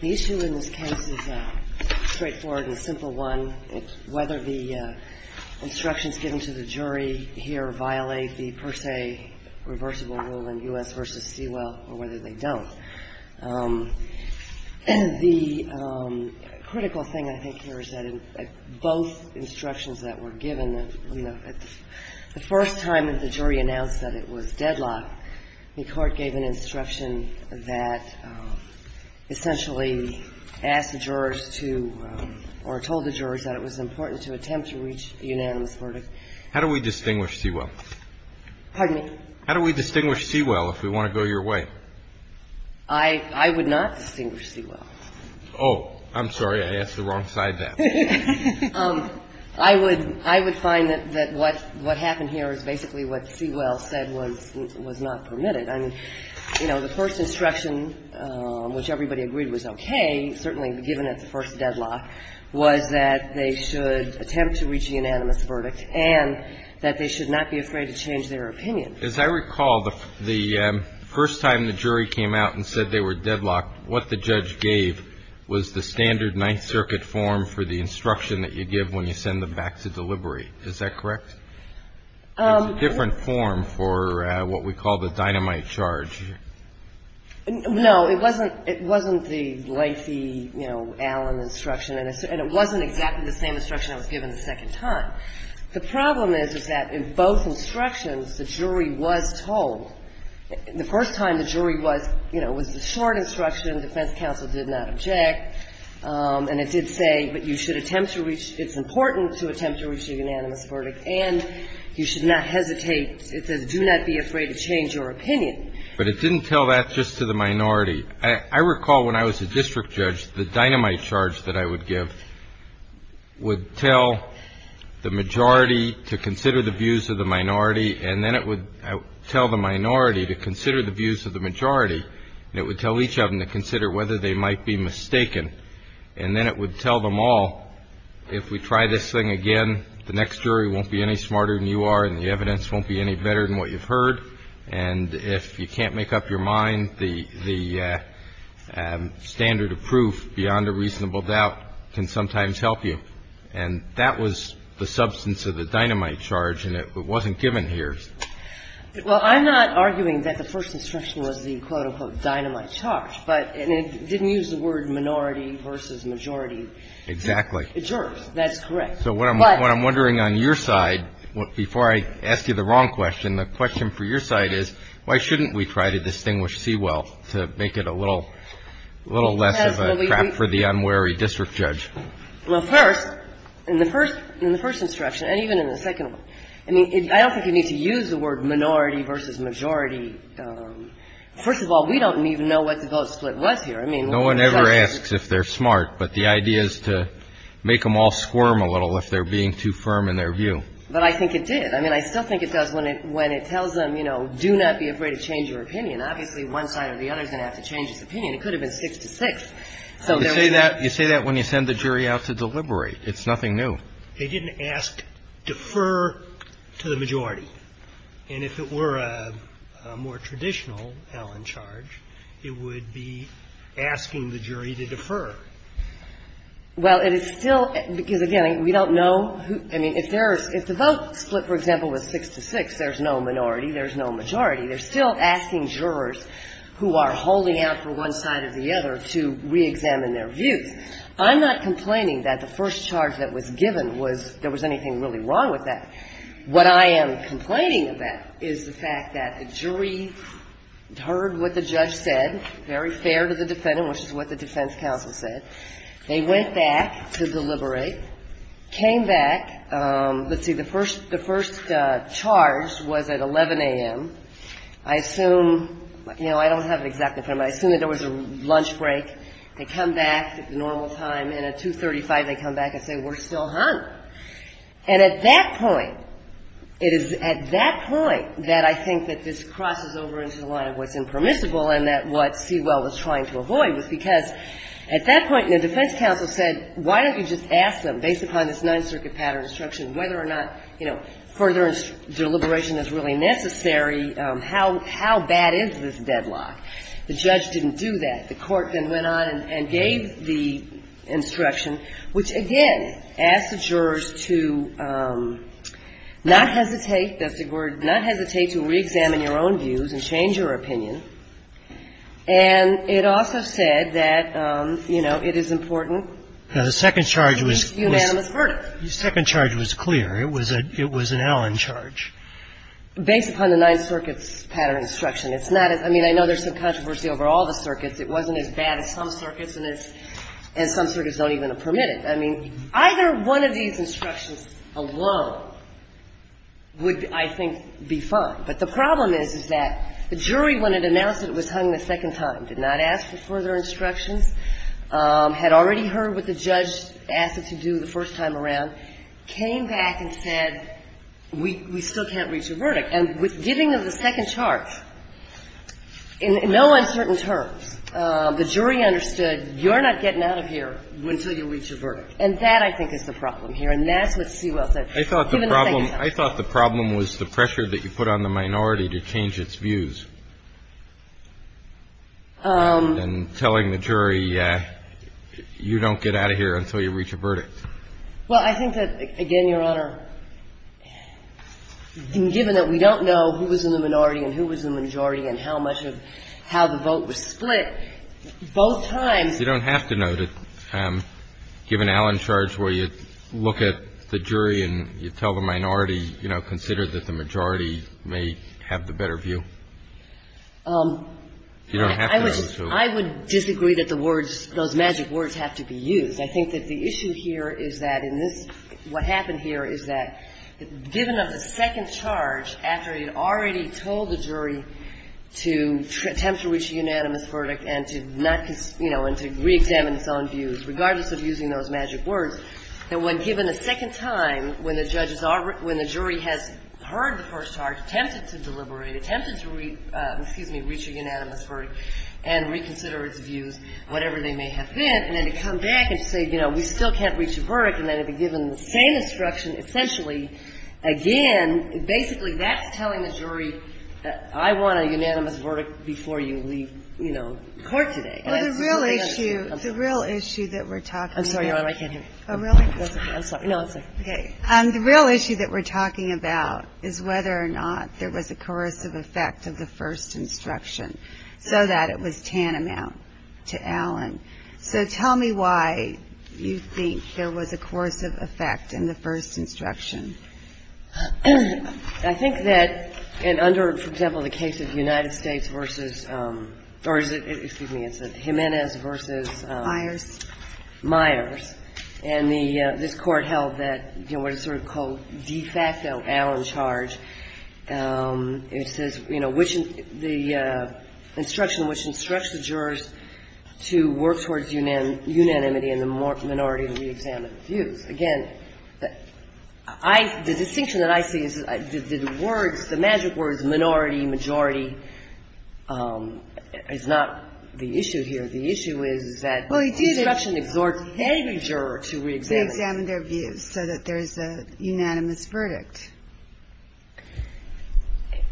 The issue in this case is a straightforward and simple one, whether the instructions given to the jury here violate the per se reversible rule in U.S. v. Sewell or whether they don't. The critical thing I think here is that in both instructions that were given, the first time that the jury announced that it was deadlocked, the court gave an instruction that essentially asked the jurors to or told the jurors that it was important to attempt to reach a unanimous verdict. How do we distinguish Sewell? Pardon me? How do we distinguish Sewell if we want to go your way? I would not distinguish Sewell. Oh, I'm sorry. I asked the wrong side there. I would find that what happened here is basically what Sewell said was not permitted. I mean, you know, the first instruction, which everybody agreed was okay, certainly given at the first deadlock, was that they should attempt to reach a unanimous verdict and that they should not be afraid to change their opinion. As I recall, the first time the jury came out and said they were deadlocked, what the judge gave was the standard Ninth Circuit form for the instruction that you give when you send them back to delivery. Is that correct? It's a different form for what we call the dynamite charge. No. It wasn't the lengthy, you know, Allen instruction. And it wasn't exactly the same instruction that was given the second time. The problem is, is that in both instructions, the jury was told. The first time the jury was, you know, it was the short instruction. The defense counsel did not object. And it did say, but you should attempt to reach, it's important to attempt to reach a unanimous verdict, and you should not hesitate. It says, do not be afraid to change your opinion. But it didn't tell that just to the minority. I recall when I was a district judge, the dynamite charge that I would give would tell the majority to consider the views of the minority. And then it would tell the minority to consider the views of the majority. And it would tell each of them to consider whether they might be mistaken. And then it would tell them all, if we try this thing again, the next jury won't be any smarter than you are and the evidence won't be any better than what you've heard. And if you can't make up your mind, the standard of proof beyond a reasonable doubt can sometimes help you. And that was the substance of the dynamite charge, and it wasn't given here. Well, I'm not arguing that the first instruction was the, quote, unquote, dynamite charge. But it didn't use the word minority versus majority. Exactly. It serves. That's correct. So what I'm wondering on your side, before I ask you the wrong question, the question for your side is, why shouldn't we try to distinguish Sewell to make it a little less of a trap for the unwary district judge? Well, first, in the first instruction, and even in the second one, I mean, I don't think you need to use the word minority versus majority. First of all, we don't even know what the vote split was here. No one ever asks if they're smart, but the idea is to make them all squirm a little if they're being too firm in their view. But I think it did. I mean, I still think it does when it tells them, you know, do not be afraid to change your opinion. Obviously, one side or the other is going to have to change his opinion. It could have been six to six. You say that when you send the jury out to deliberate. They didn't ask defer to the majority. And if it were a more traditional Allen charge, it would be asking the jury to defer. Well, it is still, because, again, we don't know who, I mean, if there is, if the vote split, for example, was six to six, there's no minority, there's no majority. They're still asking jurors who are holding out for one side or the other to reexamine their views. I'm not complaining that the first charge that was given was there was anything really wrong with that. What I am complaining about is the fact that the jury heard what the judge said, very fair to the defendant, which is what the defense counsel said. They went back to deliberate, came back. Let's see. The first charge was at 11 a.m. I assume, you know, I don't have an exact number. I assume that there was a lunch break. They come back at the normal time. And at 235, they come back and say, we're still hungry. And at that point, it is at that point that I think that this crosses over into the line of what's impermissible and that what Sewell was trying to avoid was because at that point, the defense counsel said, why don't you just ask them, based upon this Ninth Circuit pattern instruction, whether or not, you know, further deliberation is really necessary, how bad is this deadlock? The judge didn't do that. The court then went on and gave the instruction, which, again, asked the jurors to not hesitate. That's the word. Not hesitate to reexamine your own views and change your opinion. And it also said that, you know, it is important. The second charge was clear. It was an Allen charge. Based upon the Ninth Circuit's pattern instruction. It's not as — I mean, I know there's some controversy over all the circuits. It wasn't as bad as some circuits, and some circuits don't even permit it. I mean, either one of these instructions alone would, I think, be fine. But the problem is, is that the jury, when it announced it was hung the second time, did not ask for further instructions, had already heard what the judge asked it to do the first time around, came back and said, we still can't reach a verdict. And giving them the second charge, in no uncertain terms, the jury understood, you're not getting out of here until you reach a verdict. And that, I think, is the problem here. And that's what Sewell said. Given the second charge. I thought the problem was the pressure that you put on the minority to change its views. And telling the jury, you don't get out of here until you reach a verdict. Well, I think that, again, Your Honor, given that we don't know who was in the minority and who was in the majority and how much of — how the vote was split, both times — You don't have to note it, given Allen's charge, where you look at the jury and you tell the minority, you know, consider that the majority may have the better view. You don't have to know. I would disagree that the words, those magic words have to be used. I think that the issue here is that in this — what happened here is that, given of the second charge, after it had already told the jury to attempt to reach a unanimous verdict and to not — you know, and to reexamine its own views, regardless of using those magic words, that when given a second time, when the judge is — when the jury has heard the first charge, attempted to deliberate, attempted to — excuse me — reach a unanimous verdict and reconsider its views, whatever they may have been, and then to come back and say, you know, we still can't reach a verdict, and then to be given the same instruction, essentially, again, basically that's telling the jury, I want a unanimous verdict before you leave, you know, court today. I'm sorry. The real issue — the real issue that we're talking about — I'm sorry, Your Honor. I can't hear you. Oh, really? I'm sorry. No, I'm sorry. Okay. The real issue that we're talking about is whether or not there was a coercive effect of the first instruction so that it was tantamount to Allen. So tell me why you think there was a coercive effect in the first instruction. I think that under, for example, the case of the United States versus — or is it — excuse me. It's Jimenez versus — Myers. Myers. And the — this Court held that, you know, what is sort of called de facto Allen charge, it says, you know, which — the instruction which instructs the jurors to work towards unanimity in the minority and re-examine the views. Again, I — the distinction that I see is that the words, the magic words minority, majority, is not the issue here. The issue is that the instruction exhorts any juror to re-examine. To re-examine their views so that there's a unanimous verdict.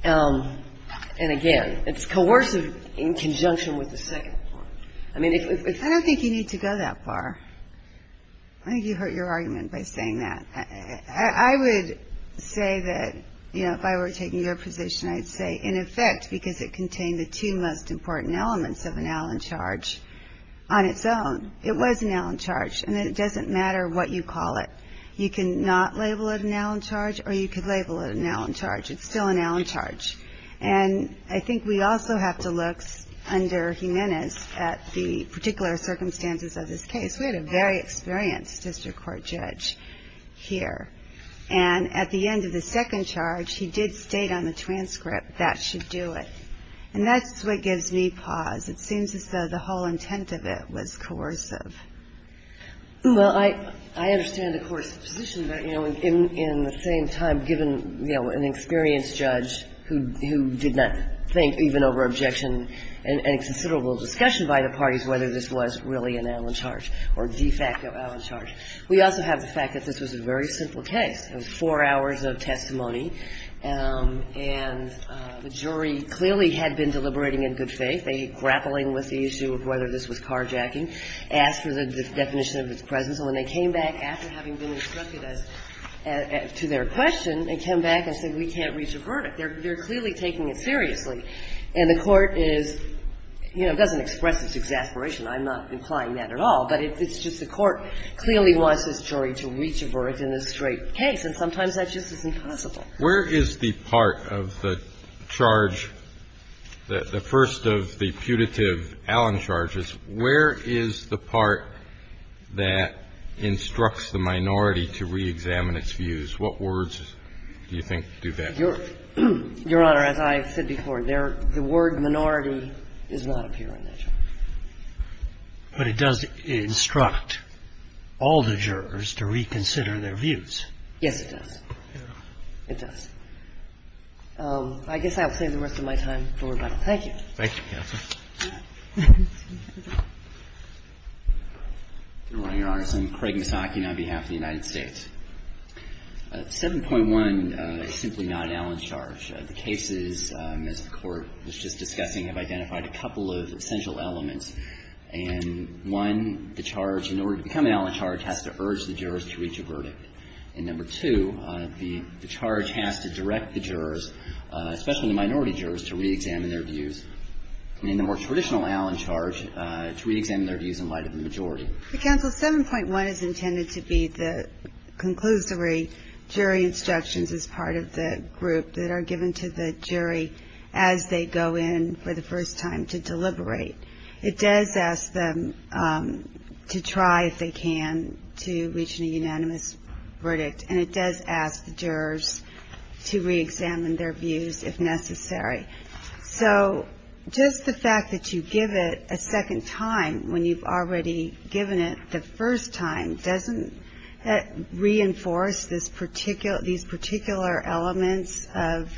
And again, it's coercive in conjunction with the second part. I mean, if it's — I don't think you need to go that far. I think you hurt your argument by saying that. I would say that, you know, if I were taking your position, I'd say, in effect, because it contained the two most important elements of an Allen charge on its own, it was an Allen charge, and it doesn't matter what you call it. You can not label it an Allen charge, or you could label it an Allen charge. It's still an Allen charge. And I think we also have to look under Jimenez at the particular circumstances of this case. We had a very experienced district court judge here. And at the end of the second charge, he did state on the transcript, that should do it. And that's what gives me pause. It seems as though the whole intent of it was coercive. Well, I understand the Court's position that, you know, in the same time, given, you know, an experienced judge who did not think, even over objection and considerable discussion by the parties, whether this was really an Allen charge or de facto Allen charge. We also have the fact that this was a very simple case. It was four hours of testimony. And the jury clearly had been deliberating in good faith. They were grappling with the issue of whether this was carjacking, asked for the definition of its presence. And when they came back after having been instructed as to their question, they came back and said, we can't reach a verdict. They're clearly taking it seriously. And the Court is, you know, doesn't express its exasperation. I'm not implying that at all. But it's just the Court clearly wants this jury to reach a verdict in this straight case. And sometimes that just isn't possible. Where is the part of the charge, the first of the putative Allen charges, where is the part that instructs the minority to reexamine its views? What words do you think do that? Your Honor, as I've said before, the word minority does not appear in that charge. But it does instruct all the jurors to reconsider their views. Yes, it does. It does. I guess I will save the rest of my time for rebuttal. Thank you. Thank you, Counsel. Good morning, Your Honors. I'm Craig Misaki on behalf of the United States. 7.1 is simply not an Allen charge. The cases, as the Court was just discussing, have identified a couple of essential elements. And one, the charge, in order to become an Allen charge, has to urge the jurors to reach a verdict. And number two, the charge has to direct the jurors, especially the minority jurors, to reexamine their views. And in the more traditional Allen charge, to reexamine their views in light of the majority. But, Counsel, 7.1 is intended to be the conclusory jury instructions as part of the group that are given to the jury as they go in for the first time to deliberate. It does ask them to try, if they can, to reach a unanimous verdict. And it does ask the jurors to reexamine their views if necessary. So just the fact that you give it a second time when you've already given it the first time doesn't reinforce these particular elements of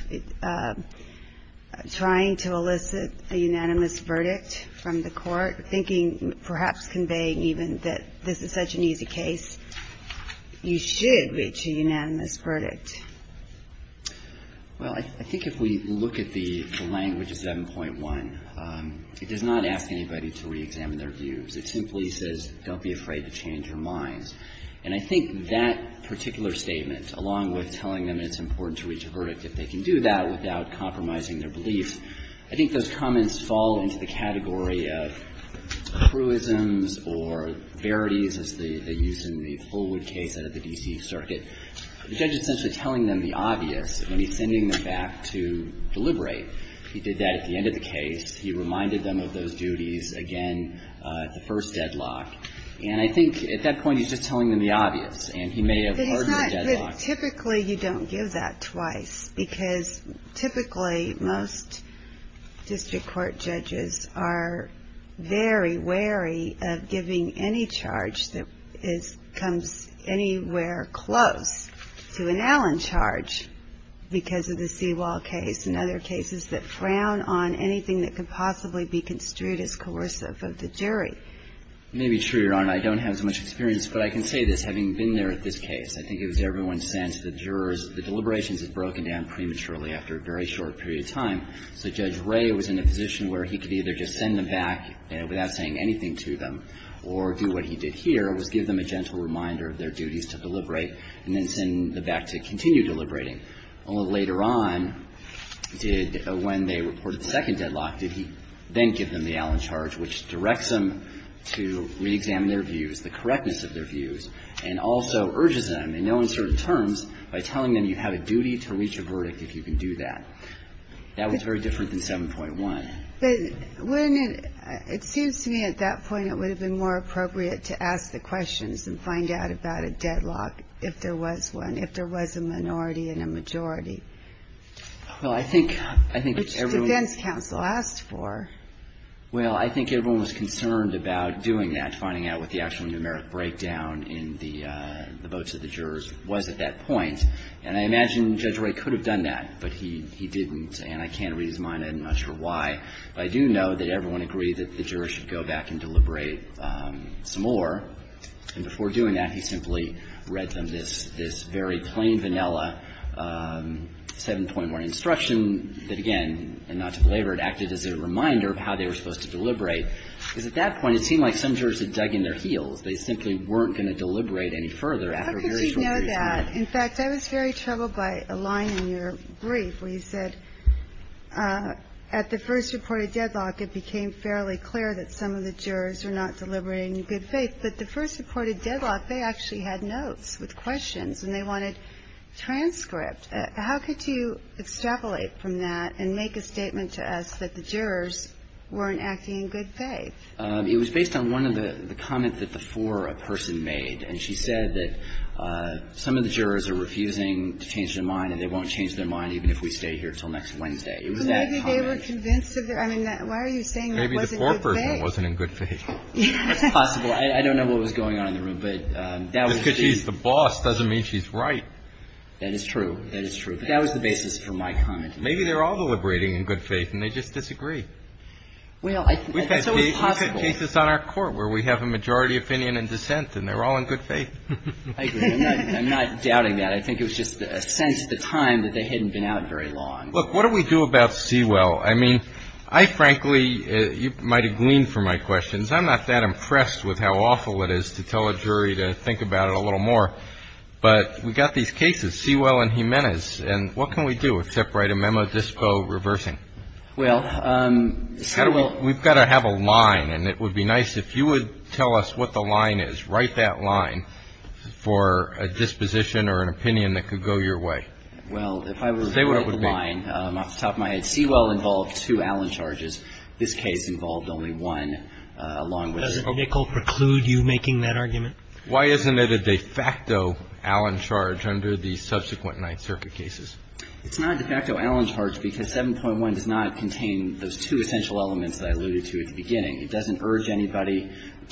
trying to elicit a unanimous verdict from the Court, thinking, perhaps conveying even that this is such an easy case, you should reach a unanimous verdict. Well, I think if we look at the language of 7.1, it does not ask anybody to reexamine their views. It simply says, don't be afraid to change your minds. And I think that particular statement, along with telling them it's important to reach a verdict if they can do that without compromising their belief, I think those comments fall into the category of cruisms or verities as they use in the Fullwood case out of the D.C. Circuit. The judge is essentially telling them the obvious when he's sending them back to deliberate. He did that at the end of the case. He reminded them of those duties again at the first deadlock. And I think at that point, he's just telling them the obvious. And he may have hardened the deadlock. Typically, you don't give that twice, because typically, most district court judges are very wary of giving any charge that comes anywhere close to an Allen charge because of the Seawall case and other cases that frown on anything that could possibly be construed as coercive of the jury. You may be true, Your Honor. I don't have as much experience, but I can say this, having been there at this case. I think it was everyone's sense that jurors, the deliberations had broken down prematurely after a very short period of time. So Judge Ray was in a position where he could either just send them back without saying anything to them or do what he did here, was give them a gentle reminder of their duties to deliberate and then send them back to continue deliberating. Only later on did, when they reported the second deadlock, did he then give them the Allen charge, which directs them to reexamine their views, the correctness of their views, and also urges them, in no uncertain terms, by telling them you have a duty to reach a verdict if you can do that. That was very different than 7.1. But when it seems to me at that point, it would have been more appropriate to ask the questions and find out about a deadlock if there was one, if there was a minority and a majority. Well, I think everyone was concerned about doing that, finding out what the actual numeric breakdown in the votes of the jurors was at that point. And I imagine Judge Ray could have done that, but he didn't. And I can't read his mind. I'm not sure why. But I do know that everyone agreed that the jurors should go back and deliberate some more. And before doing that, he simply read them this very plain, vanilla 7.1 instruction that, again, and not to belabor it, acted as a reminder of how they were supposed to deliberate. Because at that point, it seemed like some jurors had dug in their heels. They simply weren't going to deliberate any further. How could you know that? In fact, I was very troubled by a line in your brief where you said, at the first reported deadlock, it became fairly clear that some of the jurors were not deliberating in good faith. But the first reported deadlock, they actually had notes with questions, and they wanted transcripts. How could you extrapolate from that and make a statement to us that the jurors weren't acting in good faith? It was based on one of the comments that the foreperson made. And she said that some of the jurors are refusing to change their mind and they won't change their mind even if we stay here until next Wednesday. It was that comment. But maybe they were convinced of their – I mean, why are you saying that wasn't in good faith? Maybe the foreperson wasn't in good faith. That's possible. I don't know what was going on in the room. But that would be – Just because she's the boss doesn't mean she's right. That is true. That is true. But that was the basis for my comment. Maybe they're all deliberating in good faith, and they just disagree. Well, I think that's always possible. We've had cases on our Court where we have a majority opinion in dissent, and they're all in good faith. I agree. I'm not doubting that. I think it was just a sense at the time that they hadn't been out very long. Look, what do we do about Sewell? I mean, I frankly – you might have gleaned from my questions. I'm not that impressed with how awful it is to tell a jury to think about it a little more. But we've got these cases, Sewell and Jimenez, and what can we do except write a memo dispo reversing? Well – We've got to have a line. And it would be nice if you would tell us what the line is. Write that line for a disposition or an opinion that could go your way. Well, if I were to write the line, off the top of my head, Sewell involved two Allen charges. This case involved only one, along with – Does it preclude you making that argument? Why isn't it a de facto Allen charge under the subsequent Ninth Circuit cases? It's not a de facto Allen charge because 7.1 does not contain those two essential elements that I alluded to at the beginning. It doesn't urge anybody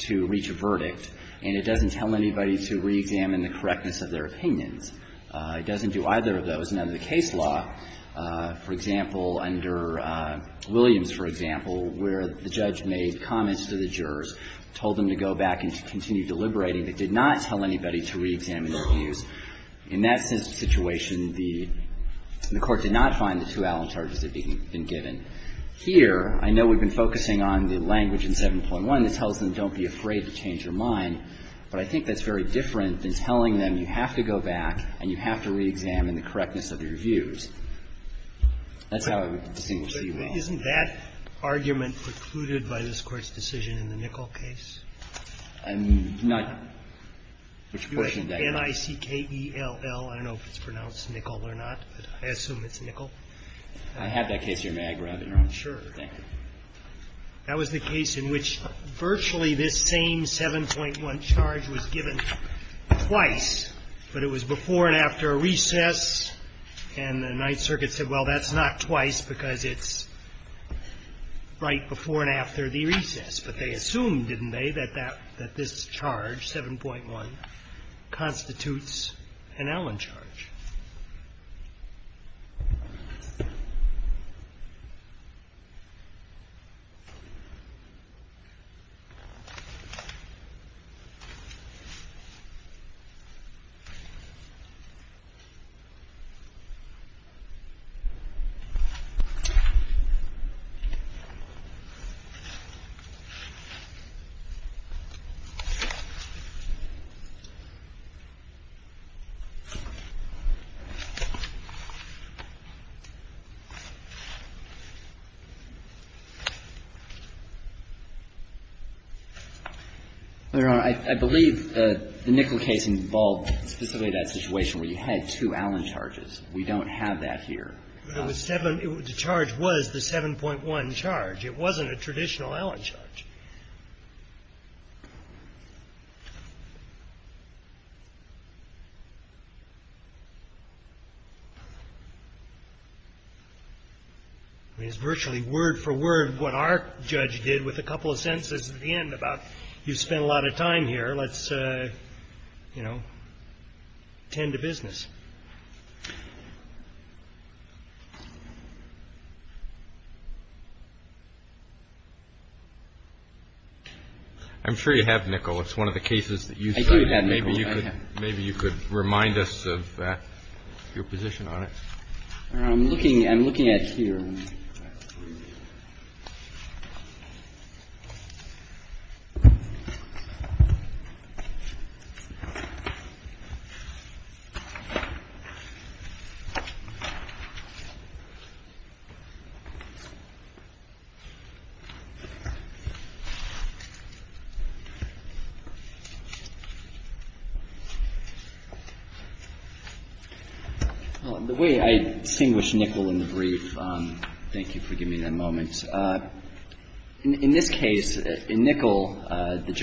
to reach a verdict, and it doesn't tell anybody to reexamine the correctness of their opinions. It doesn't do either of those. And under the case law, for example, under Williams, for example, where the judge made comments to the jurors, told them to go back and to continue deliberating, it did not tell anybody to reexamine their views. In that situation, the Court did not find the two Allen charges that had been given. Here, I know we've been focusing on the language in 7.1 that tells them don't be afraid to change your mind, but I think that's very different than telling them you have to go back and you have to reexamine the correctness of your views. That's how I would distinguish Sewell. Isn't that argument precluded by this Court's decision in the Nickel case? I'm not questioning that. N-I-C-K-E-L-L. I don't know if it's pronounced Nickel or not, but I assume it's Nickel. I have that case here. May I grab it, Your Honor? Sure. Thank you. That was the case in which virtually this same 7.1 charge was given twice, but it was before and after a recess, and the Ninth Circuit said, well, that's not twice because it's right before and after the recess. But they assumed, didn't they, that this charge, 7.1, constitutes an Allen charge? Your Honor, I believe the Nickel case involved specifically that situation where you had two Allen charges. We don't have that here. The charge was the 7.1 charge. It wasn't a traditional Allen charge. I mean, it's virtually word for word what our judge did with a couple of sentences at the end about, you spent a lot of time here, let's, you know, tend to business. I'm sure you have Nickel. It's one of the cases that you said. I do have Nickel. Maybe you could remind us of that, your position on it. I'm looking at it here. Well, the way I distinguish Nickel in the brief is that it's a case where the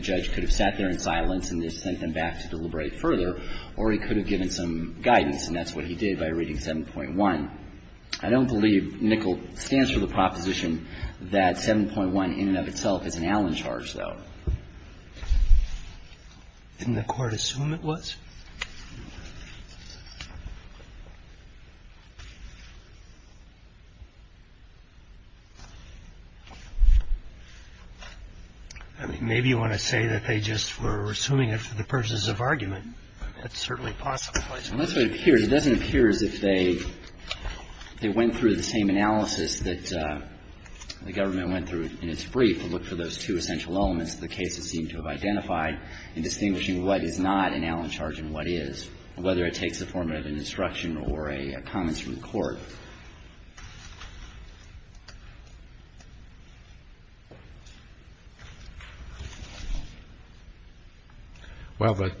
judge could have sat there in silence and just sent them back to deliberate further, or he could have given some guidance, and that's what he did by reading 7.1. I don't believe Nickel stands for the proposition that 7.1 in and of itself is an Allen charge, though. Didn't the Court assume it was? I mean, maybe you want to say that they just were assuming it for the purposes of argument. That's certainly possible. Well, that's what it appears. It doesn't appear as if they went through the same analysis that the government went through in its brief and looked for those two essential elements of the case that seem to have identified in distinguishing what is not an Allen charge and what is, whether it takes the form of an instruction or a comment from the Court. Well, the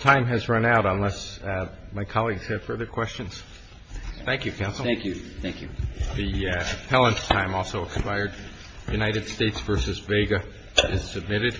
time has run out unless my colleagues have further questions. Thank you, counsel. Thank you. Thank you. The appellant's time also expired. United States v. Vega is submitted.